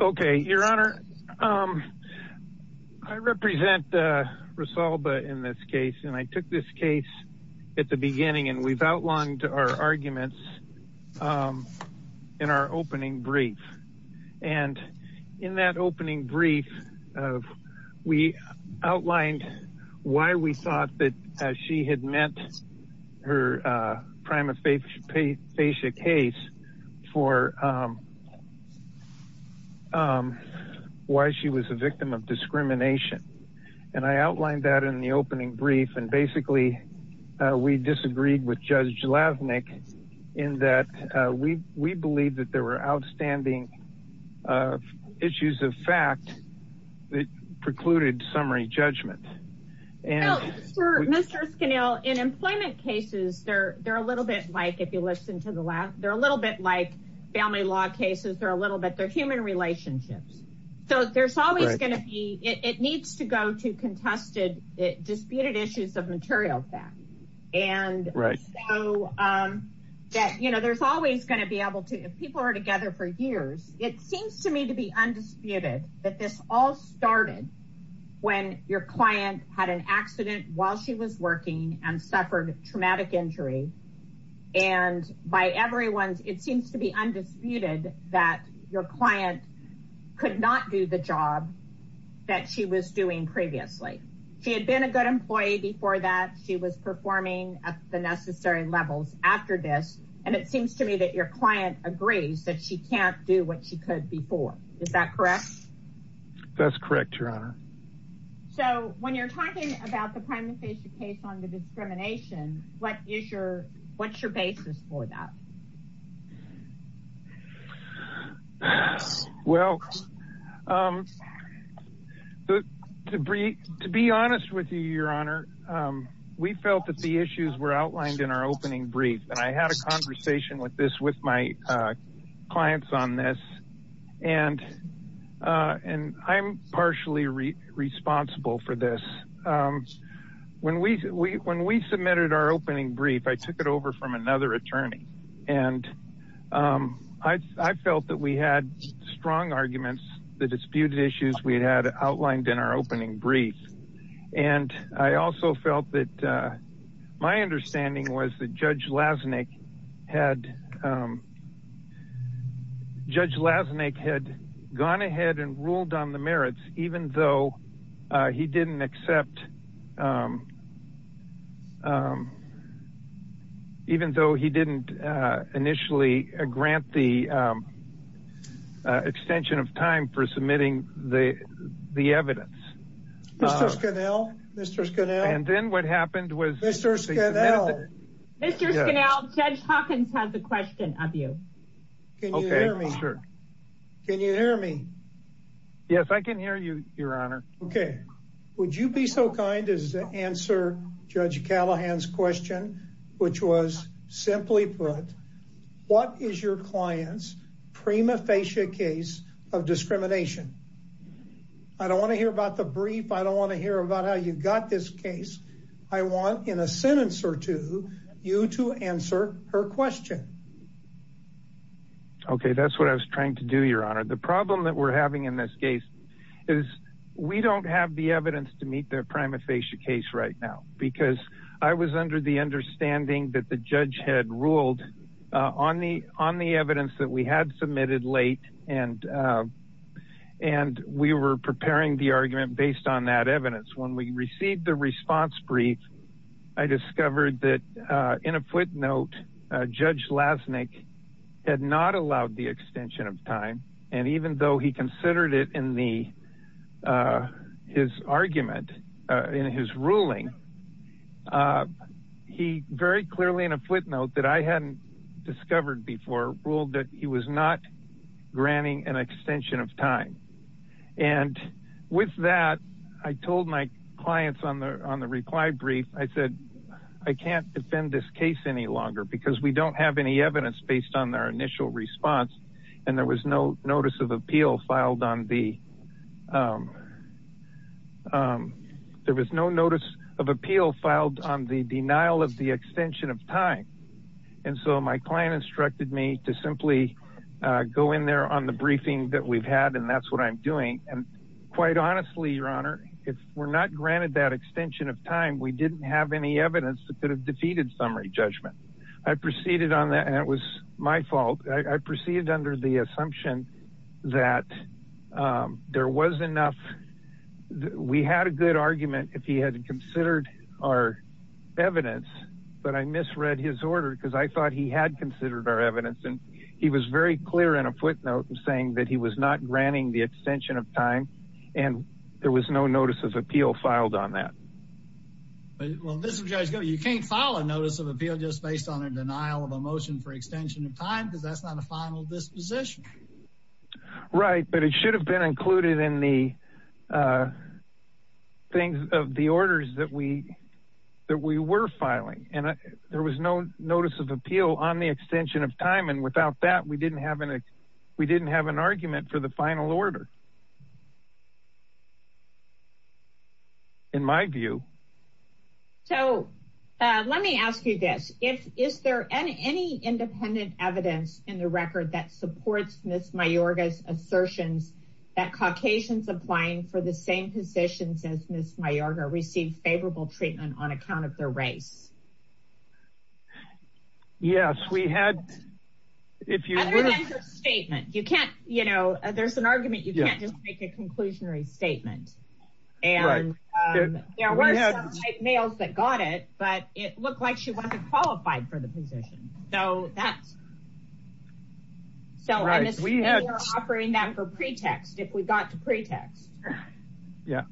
okay your honor I represent Rosalba in this case and I took this case at the beginning and we've outlined our arguments in our opening brief and in that opening brief we outlined why we thought that she had met her prima facia case for why she was a victim of discrimination and I outlined that in the opening brief and basically we disagreed with Judge Lavnik in that we we believe that there were outstanding issues of fact that precluded summary judgment in employment cases they're they're a little bit like if you listen to the lab they're a little bit like family law cases they're a little bit they're human relationships so there's always going to be it needs to go to contested it disputed issues of material fact and right so that you know there's always going to be able to if people are together for years it seems to me to be undisputed that this all started when your client had an accident while she was working and suffered a traumatic injury and by everyone's it seems to be undisputed that your client could not do the job that she was doing previously she had been a good employee before that she was performing at the necessary levels after this and it seems to me that your client agrees that she can't do what she could before is that correct that's correct your honor so when you're talking about the discrimination what is your what's your basis for that well the debris to be honest with you your honor we felt that the issues were outlined in our opening brief and I had a conversation with this with my clients on this and and I'm partially responsible for this when we when we submitted our opening brief I took it over from another attorney and I felt that we had strong arguments the disputed issues we had outlined in our opening brief and I also felt that my understanding was the judge lasnik had judge lasnik had gone ahead and ruled on the merits even though he didn't accept even though he didn't initially grant the extension of time for submitting the the evidence mr. scannell mr. scannell and then what happened was mr. scannell judge Hawkins has a question of you okay sir can you hear me yes I can hear you your honor okay would you be so kind as to answer judge Callahan's question which was simply put what is your client's prima facie case of discrimination I don't want to hear about the brief I don't want to hear about how you got this case I want in a sentence or two you to answer her question okay that's what I was trying to do your honor the problem that we're having in this case is we don't have the evidence to meet their prima facie case right now because I was under the understanding that the judge had ruled on the on the evidence that we had submitted late and and we were preparing the argument based on that evidence when we received the response brief I discovered that in a footnote judge lasnik had not allowed the extension of time and even though he considered it in the his argument in his ruling he very clearly in a footnote that I hadn't discovered before ruled that he was not with that I told my clients on the on the reply brief I said I can't defend this case any longer because we don't have any evidence based on their initial response and there was no notice of appeal filed on the there was no notice of appeal filed on the denial of the extension of time and so my client instructed me to simply go in there on the briefing that we've had and that's what I'm doing and quite honestly your honor if we're not granted that extension of time we didn't have any evidence that could have defeated summary judgment I proceeded on that and it was my fault I proceeded under the assumption that there was enough we had a good argument if he hadn't considered our evidence but I misread his order because I thought he had considered our evidence and he was very clear in a footnote and saying that he was not granting the extension of time and there was no notice of appeal filed on that you can't follow notice of appeal just based on a denial of a motion for extension of time because that's not a final disposition right but it should have been included in the things of the orders that we that we were filing and there was no notice of appeal on the extension of time and without that we didn't have an argument for the final order in my view so let me ask you this if is there any any independent evidence in the record that supports Miss Mayorga's assertions that Caucasians applying for the same positions as Miss Mayorga received favorable treatment on account of their race yes we had if you statement you can't you know there's an argument you can't just make a conclusionary statement and there were males that got it but it looked like she wasn't qualified for the position so that's so right we had offering that for pretext if we got to pretext yeah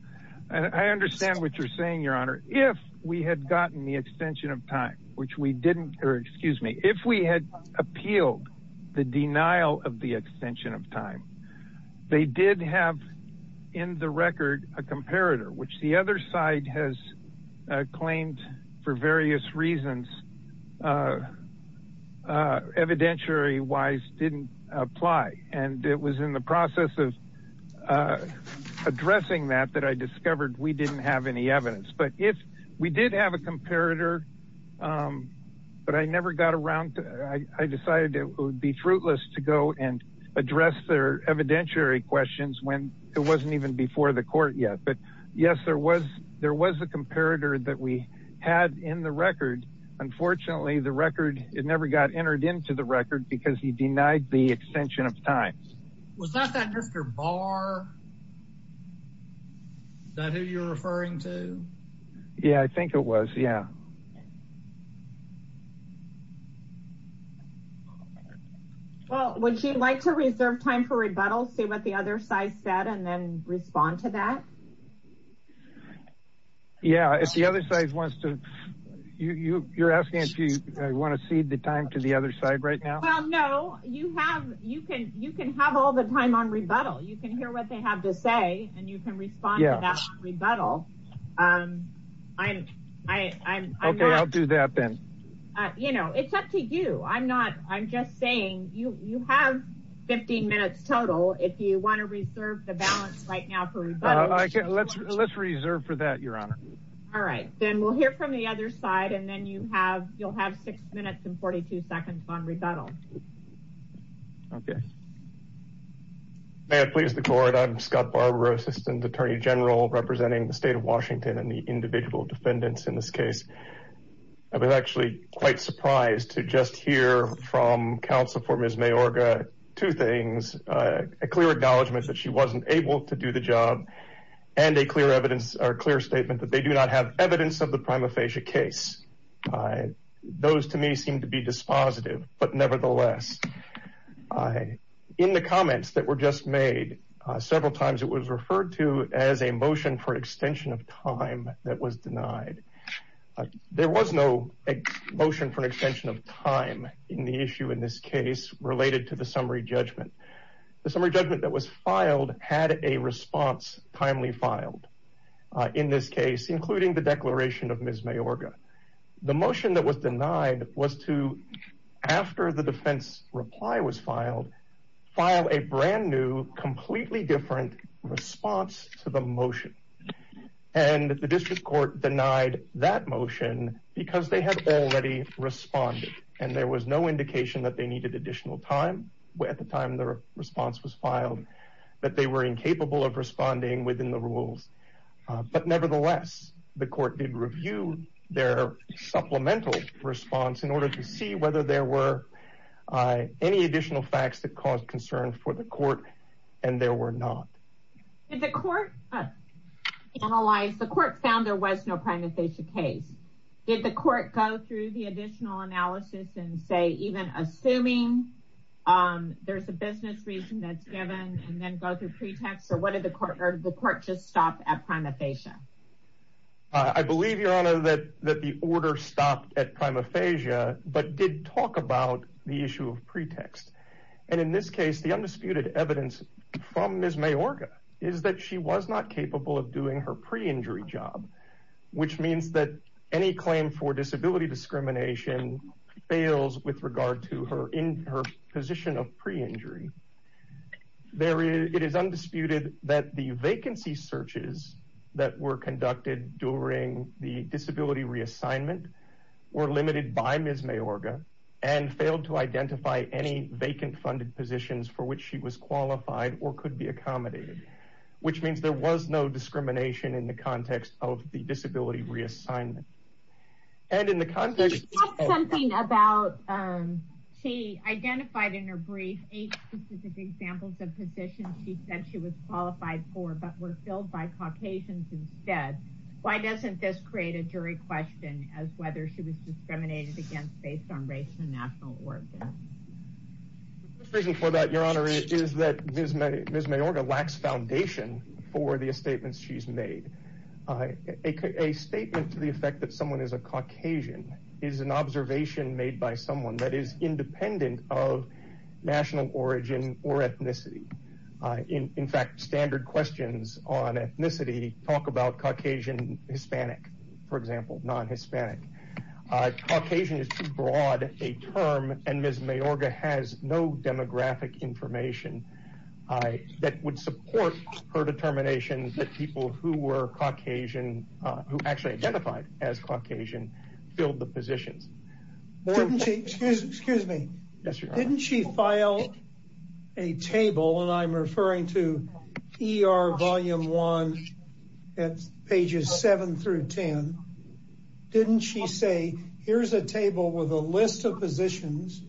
I understand what you're saying Your Honor if we had gotten the extension of time which we didn't or excuse me if we had appealed the denial of the extension of time they did have in the record a comparator which the other side has claimed for various reasons evidentiary wise didn't apply and it was in the process of addressing that that I discovered we didn't have any evidence but if we did have a comparator but I never got around to I decided it would be fruitless to go and address their evidentiary questions when it wasn't even before the court yet but yes there was there was a comparator that we had in the record unfortunately the record it never got entered into the record because he denied the extension of time was that that mr. Barr that who you're referring to yeah I think it was yeah well would you like to reserve time for rebuttal see what the other side said and then respond to that yeah if the other side wants to you you're asking if you want to cede the time to the other side right now no you have you can you can have all the time on rebuttal you can hear what they have to say and you can respond yes rebuttal I'm okay I'll do that then you know it's up to you I'm not I'm just saying you you have 15 minutes total if you want to reserve the balance right now let's let's reserve for that your honor all right then we'll hear from the other side and then you have you'll have six minutes and 42 seconds on rebuttal okay may I please the court I'm Scott Barbara assistant attorney general representing the state of Washington and the individual defendants in this case I was actually quite surprised to just hear from counsel for Ms. Mayorga two things a clear acknowledgments that she wasn't able to do the job and a clear evidence or clear statement that they do not have a motion for an extension of time that was denied it was a motion that was positive but nevertheless I in the comments that were just made several times it was referred to as a motion for extension of time that was denied there was no motion for an extension of time in the issue in this case related to the summary judgment the summary judgment that was filed had a response timely filed in this case including the declaration of Ms. Mayorga the motion that was denied was to after the defense reply was filed file a brand new completely different response to the motion and the district court denied that motion because they had already responded and there was no indication that they needed additional time where at the time the response was filed that they were incapable of responding within the rules but nevertheless the court did review their supplemental response in order to see whether there were any additional facts that caused concern for the court and there were not if the court analyzed the court found there was no prime if they should case did the court go through the additional analysis and say even assuming there's a pretext so what did the court heard the court just stopped at prima facie I believe your honor that that the order stopped at prima facie but did talk about the issue of pretext and in this case the undisputed evidence from Ms. Mayorga is that she was not capable of doing her pre-injury job which means that any claim for disability discrimination fails with regard to her position of pre-injury there it is undisputed that the vacancy searches that were conducted during the disability reassignment were limited by Ms. Mayorga and failed to identify any vacant funded positions for which she was qualified or could be accommodated which means there was no discrimination in the context of the disability reassignment and in the context something about she identified in her brief eight specific examples of positions she said she was qualified for but were filled by Caucasians instead why doesn't this create a jury question as whether she was discriminated against based on race and national origin reason for that your honor is that there's many there's mayorga lacks foundation for the statements she's made a statement to the made by someone that is independent of national origin or ethnicity in in fact standard questions on ethnicity talk about Caucasian Hispanic for example non-hispanic Caucasian is too broad a term and Ms. Mayorga has no demographic information I that would support her determination that people who were Caucasian filled the positions excuse me didn't she file a table and I'm referring to ER volume one at pages seven through ten didn't she say here's a table with a list of positions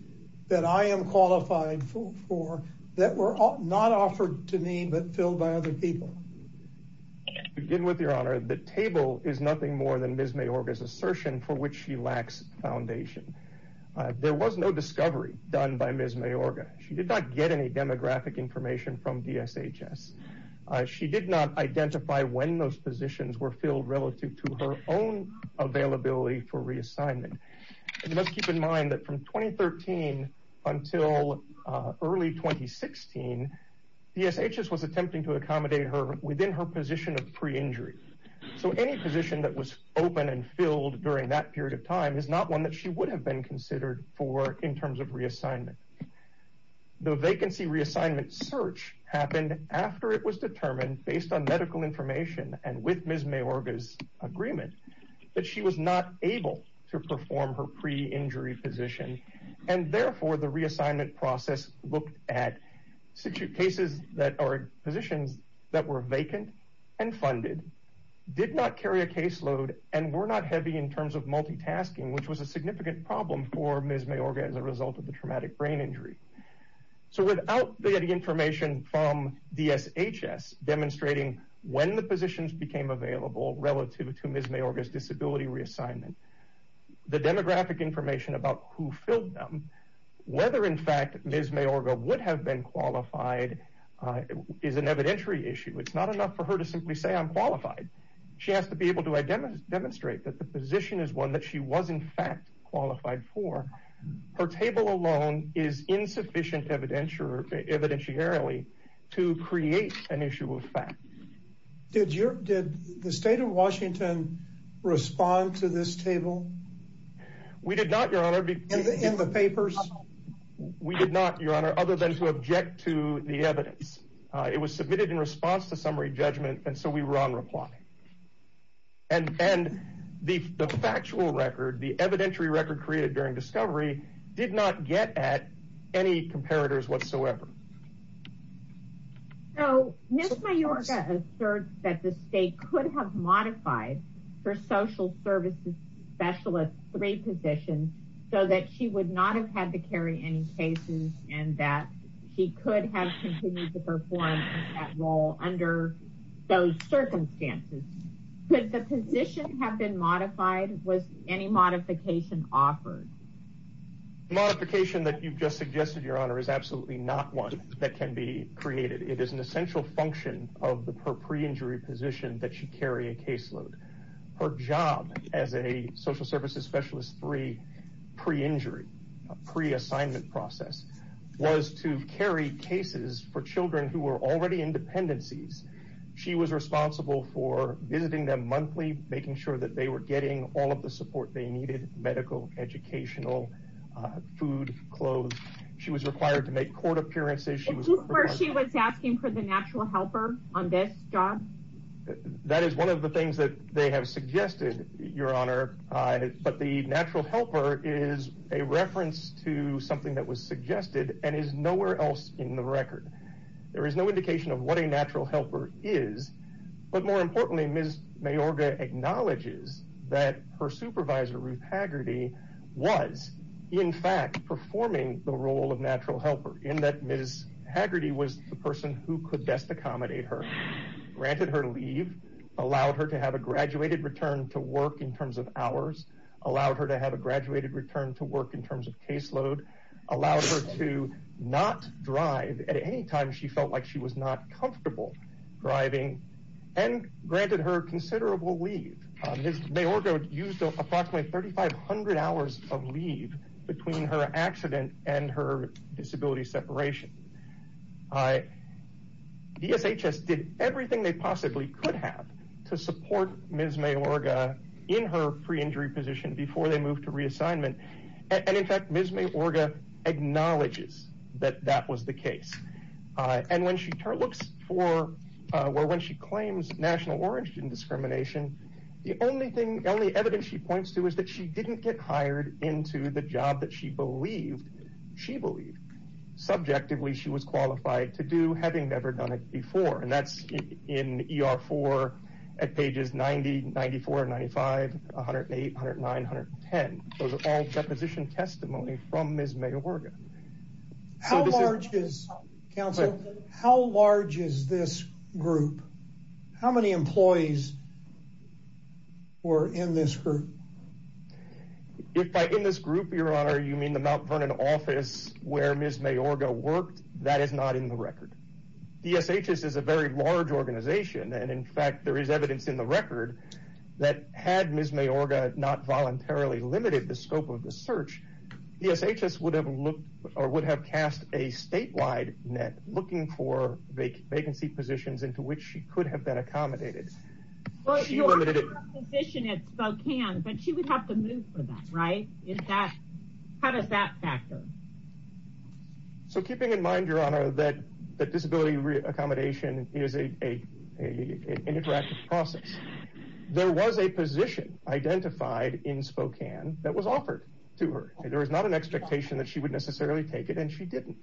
that I am qualified for that were not offered to me but filled by other people begin with your honor the table is nothing more than Ms. Mayorga's assertion for which she lacks foundation there was no discovery done by Ms. Mayorga she did not get any demographic information from DSHS she did not identify when those positions were filled relative to her own availability for reassignment let's keep in mind that from 2013 until early 2016 DSHS was attempting to accommodate her within her position of pre-injury so any position that was open and filled during that period of time is not one that she would have been considered for in terms of reassignment the vacancy reassignment search happened after it was determined based on medical information and with Ms. Mayorga's agreement that she was not able to perform her pre-injury position and therefore the reassignment process looked at situ cases that are positions that were vacant and funded did not carry a caseload and were not heavy in terms of multitasking which was a significant problem for Ms. Mayorga as a result of the traumatic brain injury so without the information from DSHS demonstrating when the positions became available relative to Ms. Mayorga's disability reassignment the demographic information about who filled them whether in fact Ms. Mayorga would have been qualified is an evidentiary issue it's not enough for her to simply say I'm qualified she has to be able to demonstrate that the position is one that she was in fact qualified for her table alone is insufficient evidentiary evidentiary to create an issue of fact did your did the state of Washington respond to this table we did not your honor be in the papers we did not your honor other than to object to the evidence it was submitted in response to summary judgment and so we were on reply and and the factual record the evidentiary record created during discovery did not get at any comparators whatsoever so Mr. Mayorga asserts that the state could have modified her social services specialist three positions so that she would not have had to carry any cases and that she could have continued to perform that role under those circumstances could the position have been modified was any modification offered modification that you've just suggested your honor is absolutely not one that can be created it is an essential function of the per pre-injury position that she carry a caseload her job as a social services specialist 3 pre-injury pre-assignment process was to carry cases for children who were already in dependencies she was responsible for visiting them monthly making sure that they were getting all of the support they needed medical educational food clothes she was required to make court appearances she was where she was asking for the natural helper on this job that is one of the things that they have suggested your honor but the natural helper is a reference to something that was suggested and is nowhere else in the record there is no indication of what a natural helper is but more importantly Ms. Mayorga acknowledges that her supervisor Ruth Haggerty was in fact performing the role of natural helper in that Ms. Haggerty was the person who could best accommodate her granted her leave allowed her to have a graduated return to work in terms of hours allowed her to have a graduated return to work in terms of caseload allowed her to not drive at any time she felt like she was not comfortable driving and granted her considerable leave. Ms. Mayorga used approximately 3,500 hours of leave between her accident and her disability separation. DSHS did everything they possibly could have to support Ms. Mayorga in her pre-injury position before they moved to reassignment and in her looks for well when she claims national origin discrimination the only thing the only evidence she points to is that she didn't get hired into the job that she believed she believed subjectively she was qualified to do having never done it before and that's in ER 4 at pages 90, 94, 95, 108, 109, 110 those are all deposition testimony from Ms. Mayorga. How large is this group? How many employees were in this group? If by in this group your honor you mean the Mount Vernon office where Ms. Mayorga worked that is not in the record. DSHS is a very large organization and in fact there is evidence in the record that had Ms. Mayorga not voluntarily limited the scope of the search DSHS would have looked or would have cast a statewide net looking for vacancy positions into which she could have been accommodated. But you have a position at Spokane but she would have to move for that right? How does that factor? So keeping in mind your honor that the disability re-accommodation is an interactive process there was a position identified in Spokane that was offered to her there was not an expectation that she would necessarily take it and she didn't.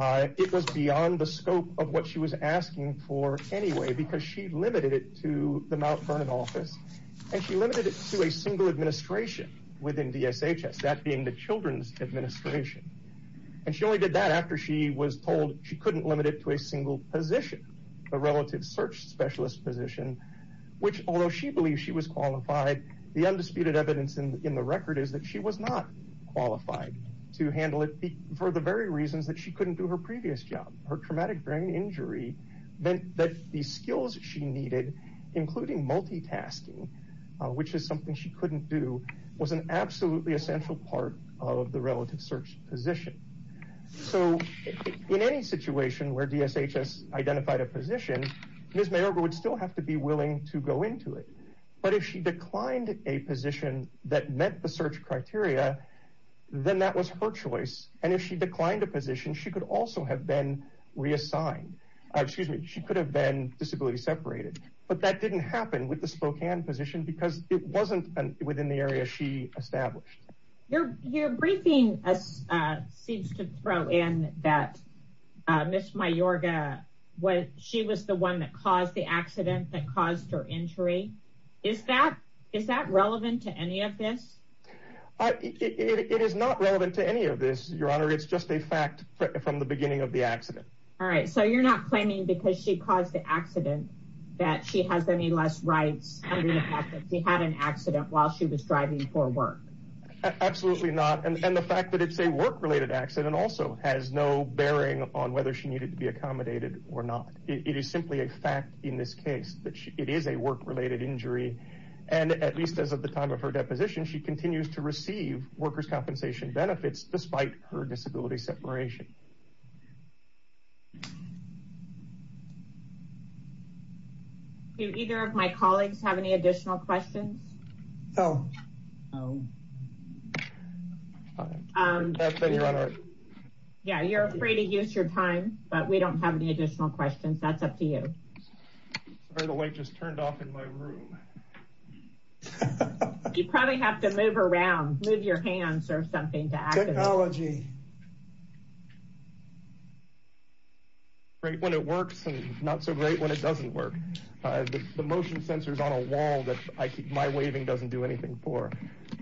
It was beyond the scope of what she was asking for anyway because she limited it to the Mount Vernon office and she limited it to a single administration within DSHS that being the Children's Administration and she only did that after she was told she couldn't limit it to a single position. A relative search specialist position which although she believes she was qualified the undisputed evidence in the record is that she was not qualified to handle it for the very reasons that she couldn't do her previous job. Her traumatic brain injury meant that the skills she needed including multitasking which is something she couldn't do was an absolutely essential part of the relative search position. So in any situation where DSHS identified a position Ms. Mayorga would still have to be willing to go into it but if she declined a position that met the search criteria then that was her choice and if she declined a position she could also have been reassigned. Excuse me she could have been disability separated but that didn't happen with the Spokane position because it wasn't within the area she established. Your briefing seems to throw in that Ms. Mayorga was she was the one that caused the accident that caused her injury. Is that is that relevant to any of this? It is not relevant to any of this your honor it's just a fact from the beginning of the accident. All right so you're not claiming because she caused the accident that she has any less rights. She had an Absolutely not and the fact that it's a work-related accident also has no bearing on whether she needed to be accommodated or not. It is simply a fact in this case that it is a work-related injury and at least as of the time of her deposition she continues to receive workers compensation benefits despite her disability separation. Do either of my colleagues have any additional questions? No. Yeah you're afraid to use your time but we don't have any additional questions that's up to you. Sorry the light just turned off in my room. You probably have to move around move your hands or something. Technology. Great when it works and not so great when it doesn't work. The motion sensor is on a wall that I keep my waving doesn't do anything for.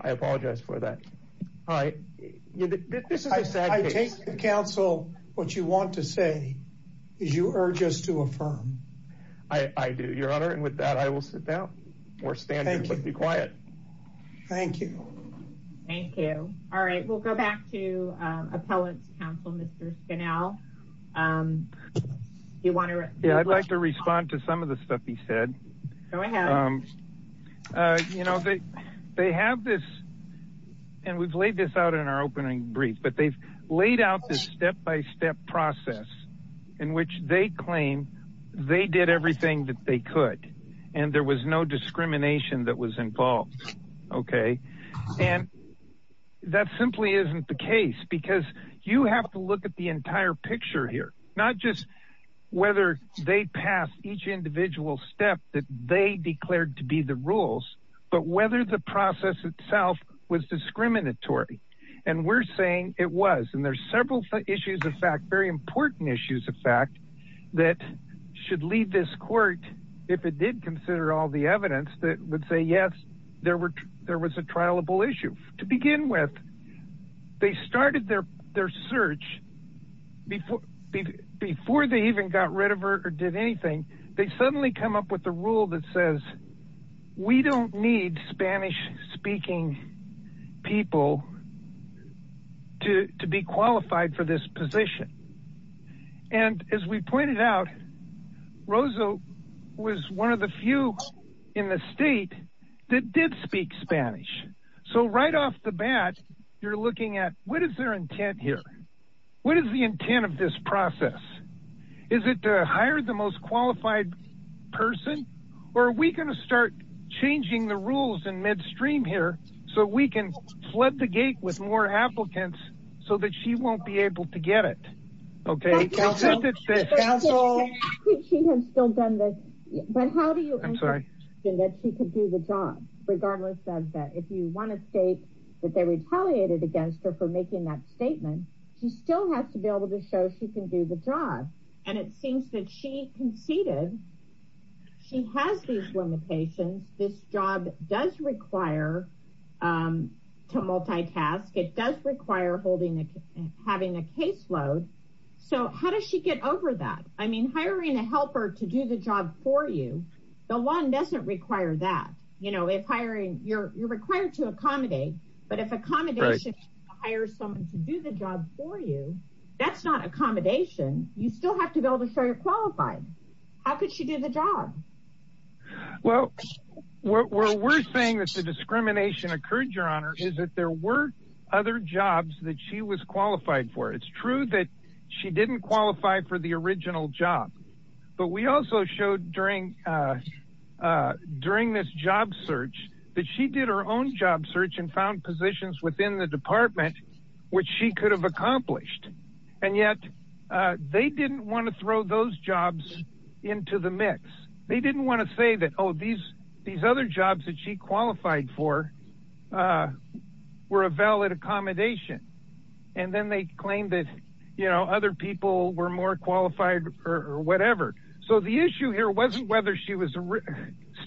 I apologize for that. I take counsel what you want to say is you urge us to affirm. I do your Thank you. All right we'll go back to appellate counsel Mr. Scanal. You want to yeah I'd like to respond to some of the stuff he said. Go ahead. You know they have this and we've laid this out in our opening brief but they've laid out this step-by-step process in which they claim they did everything that they could and there was no discrimination that was involved okay and that simply isn't the case because you have to look at the entire picture here not just whether they passed each individual step that they declared to be the rules but whether the process itself was discriminatory and we're saying it was and there's several issues of fact very important issues of fact that should lead this court if it did consider all the evidence that would say yes there were there was a trialable issue to begin with they started their their search before before they even got rid of her or did anything they suddenly come up with the rule that says we don't need Spanish-speaking people to be qualified for this position and as we pointed out Rosa was one of the few in the state that did speak Spanish so right off the bat you're looking at what is their intent here what is the intent of this process is it to hire the most qualified person or are we going to start changing the rules in midstream here so we can flood the gate with more applicants so that she won't be able to get it okay regardless that if you want to state that they retaliated against her for making that statement she still has to be able to show she can do the job and it seems that she conceded she has these limitations this job does require to multitask it does require holding and having a caseload so how does she get over that I mean hiring a helper to do the job for you the one doesn't require that you know if hiring you're required to accommodate but if accommodation hire someone to do the job for you that's not accommodation you still have to be able to show you're qualified how could she do the job well what we're saying that the discrimination occurred your honor is that there were other jobs that she was qualified for it's true that she didn't qualify for the original job but we also showed during during this job search that she did her own job search and found positions within the department which she could have accomplished and yet they didn't want to throw those jobs into the these other jobs that she qualified for were a valid accommodation and then they claimed that you know other people were more qualified or whatever so the issue here wasn't whether she was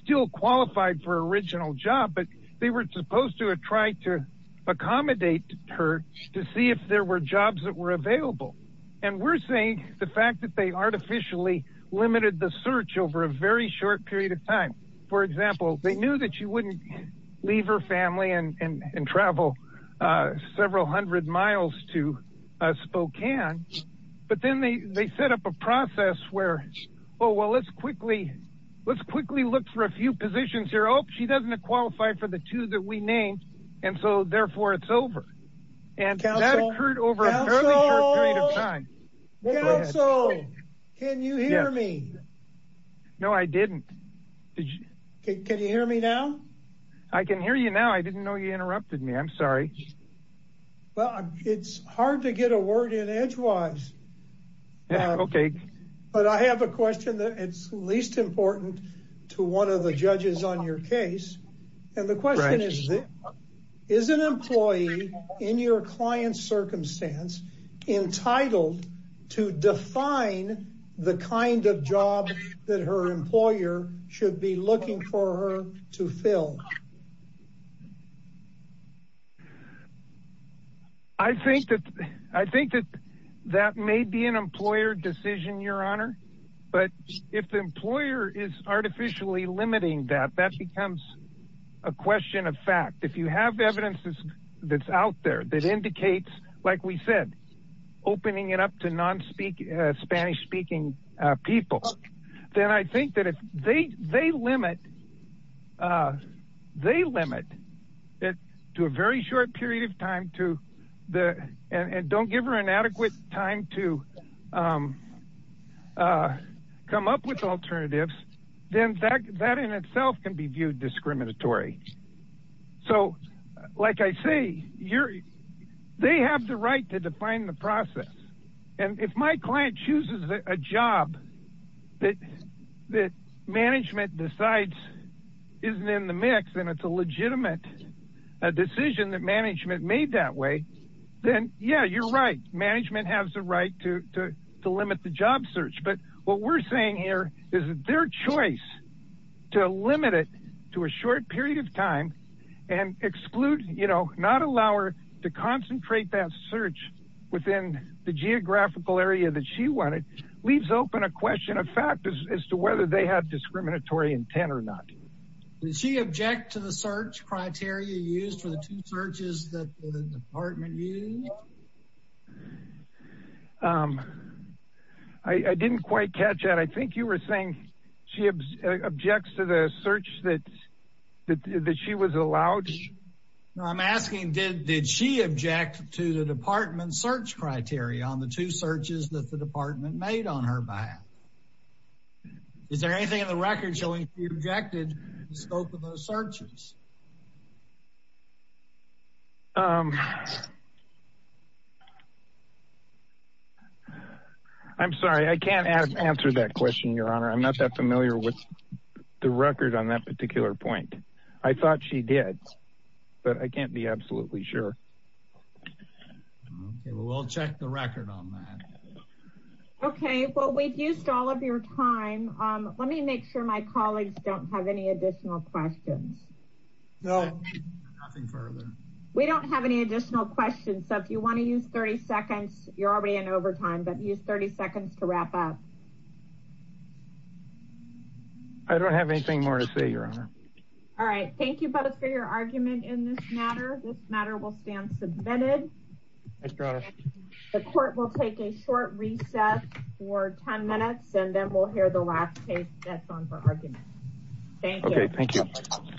still qualified for original job but they were supposed to have tried to accommodate her to see if there were jobs that were available and we're saying the fact that they artificially limited the search over a very short period of time for example they knew that you wouldn't leave her family and travel several hundred miles to Spokane but then they they set up a process where oh well let's quickly let's quickly look for a few positions here oh she doesn't have qualified for the two that we named and so therefore it's over and that occurred over a fairly short period of time. Counsel! Counsel! Can you hear me? No I didn't. Can you hear me now? I can hear you now I didn't know you interrupted me I'm sorry. Well it's hard to get a word in edgewise okay but I have a question that it's least important to one of the judges on your case and the question is is an employee in your client's circumstance entitled to define the kind of job that her employer should be looking for her to fill? I think that I think that that may be an employer decision your honor but if the employer is artificially limiting that that becomes a question of fact if you have evidences that's out there that indicates like we said opening it up to non speak Spanish-speaking people then I think that if they they limit they limit it to a very short period of time to the and come up with alternatives then that in itself can be viewed discriminatory so like I say you're they have the right to define the process and if my client chooses a job that that management decides isn't in the mix and it's a legitimate a decision that management made that way then yeah you're right management has the right to limit the job search but what we're saying here is their choice to limit it to a short period of time and exclude you know not allow her to concentrate that search within the geographical area that she wanted leaves open a question of fact as to whether they have discriminatory intent or not. Does she object to the search criteria used for the two searches that the department used? I didn't quite catch that. I think you were saying she objects to the search that that she was allowed? I'm asking did she object to the department's search criteria on the two searches that the department made on her behalf? Is there anything in the record showing she objected to the scope of those searches? I'm sorry I can't answer that question your honor. I'm not that familiar with the record on that particular point. I thought she did but I can't be absolutely sure. We'll check the record on that. Okay well we've used all of your time. Let me make sure my colleagues don't have any additional questions. We don't have any additional questions so if you want to use 30 seconds you're already in overtime but use 30 seconds to wrap up. I don't have anything more to say your honor. All right thank you both for your argument in this matter. This matter will stand submitted. The court will take a short recess for 10 minutes and then we'll hear the last case that's on for argument. Thank you. Okay thank you.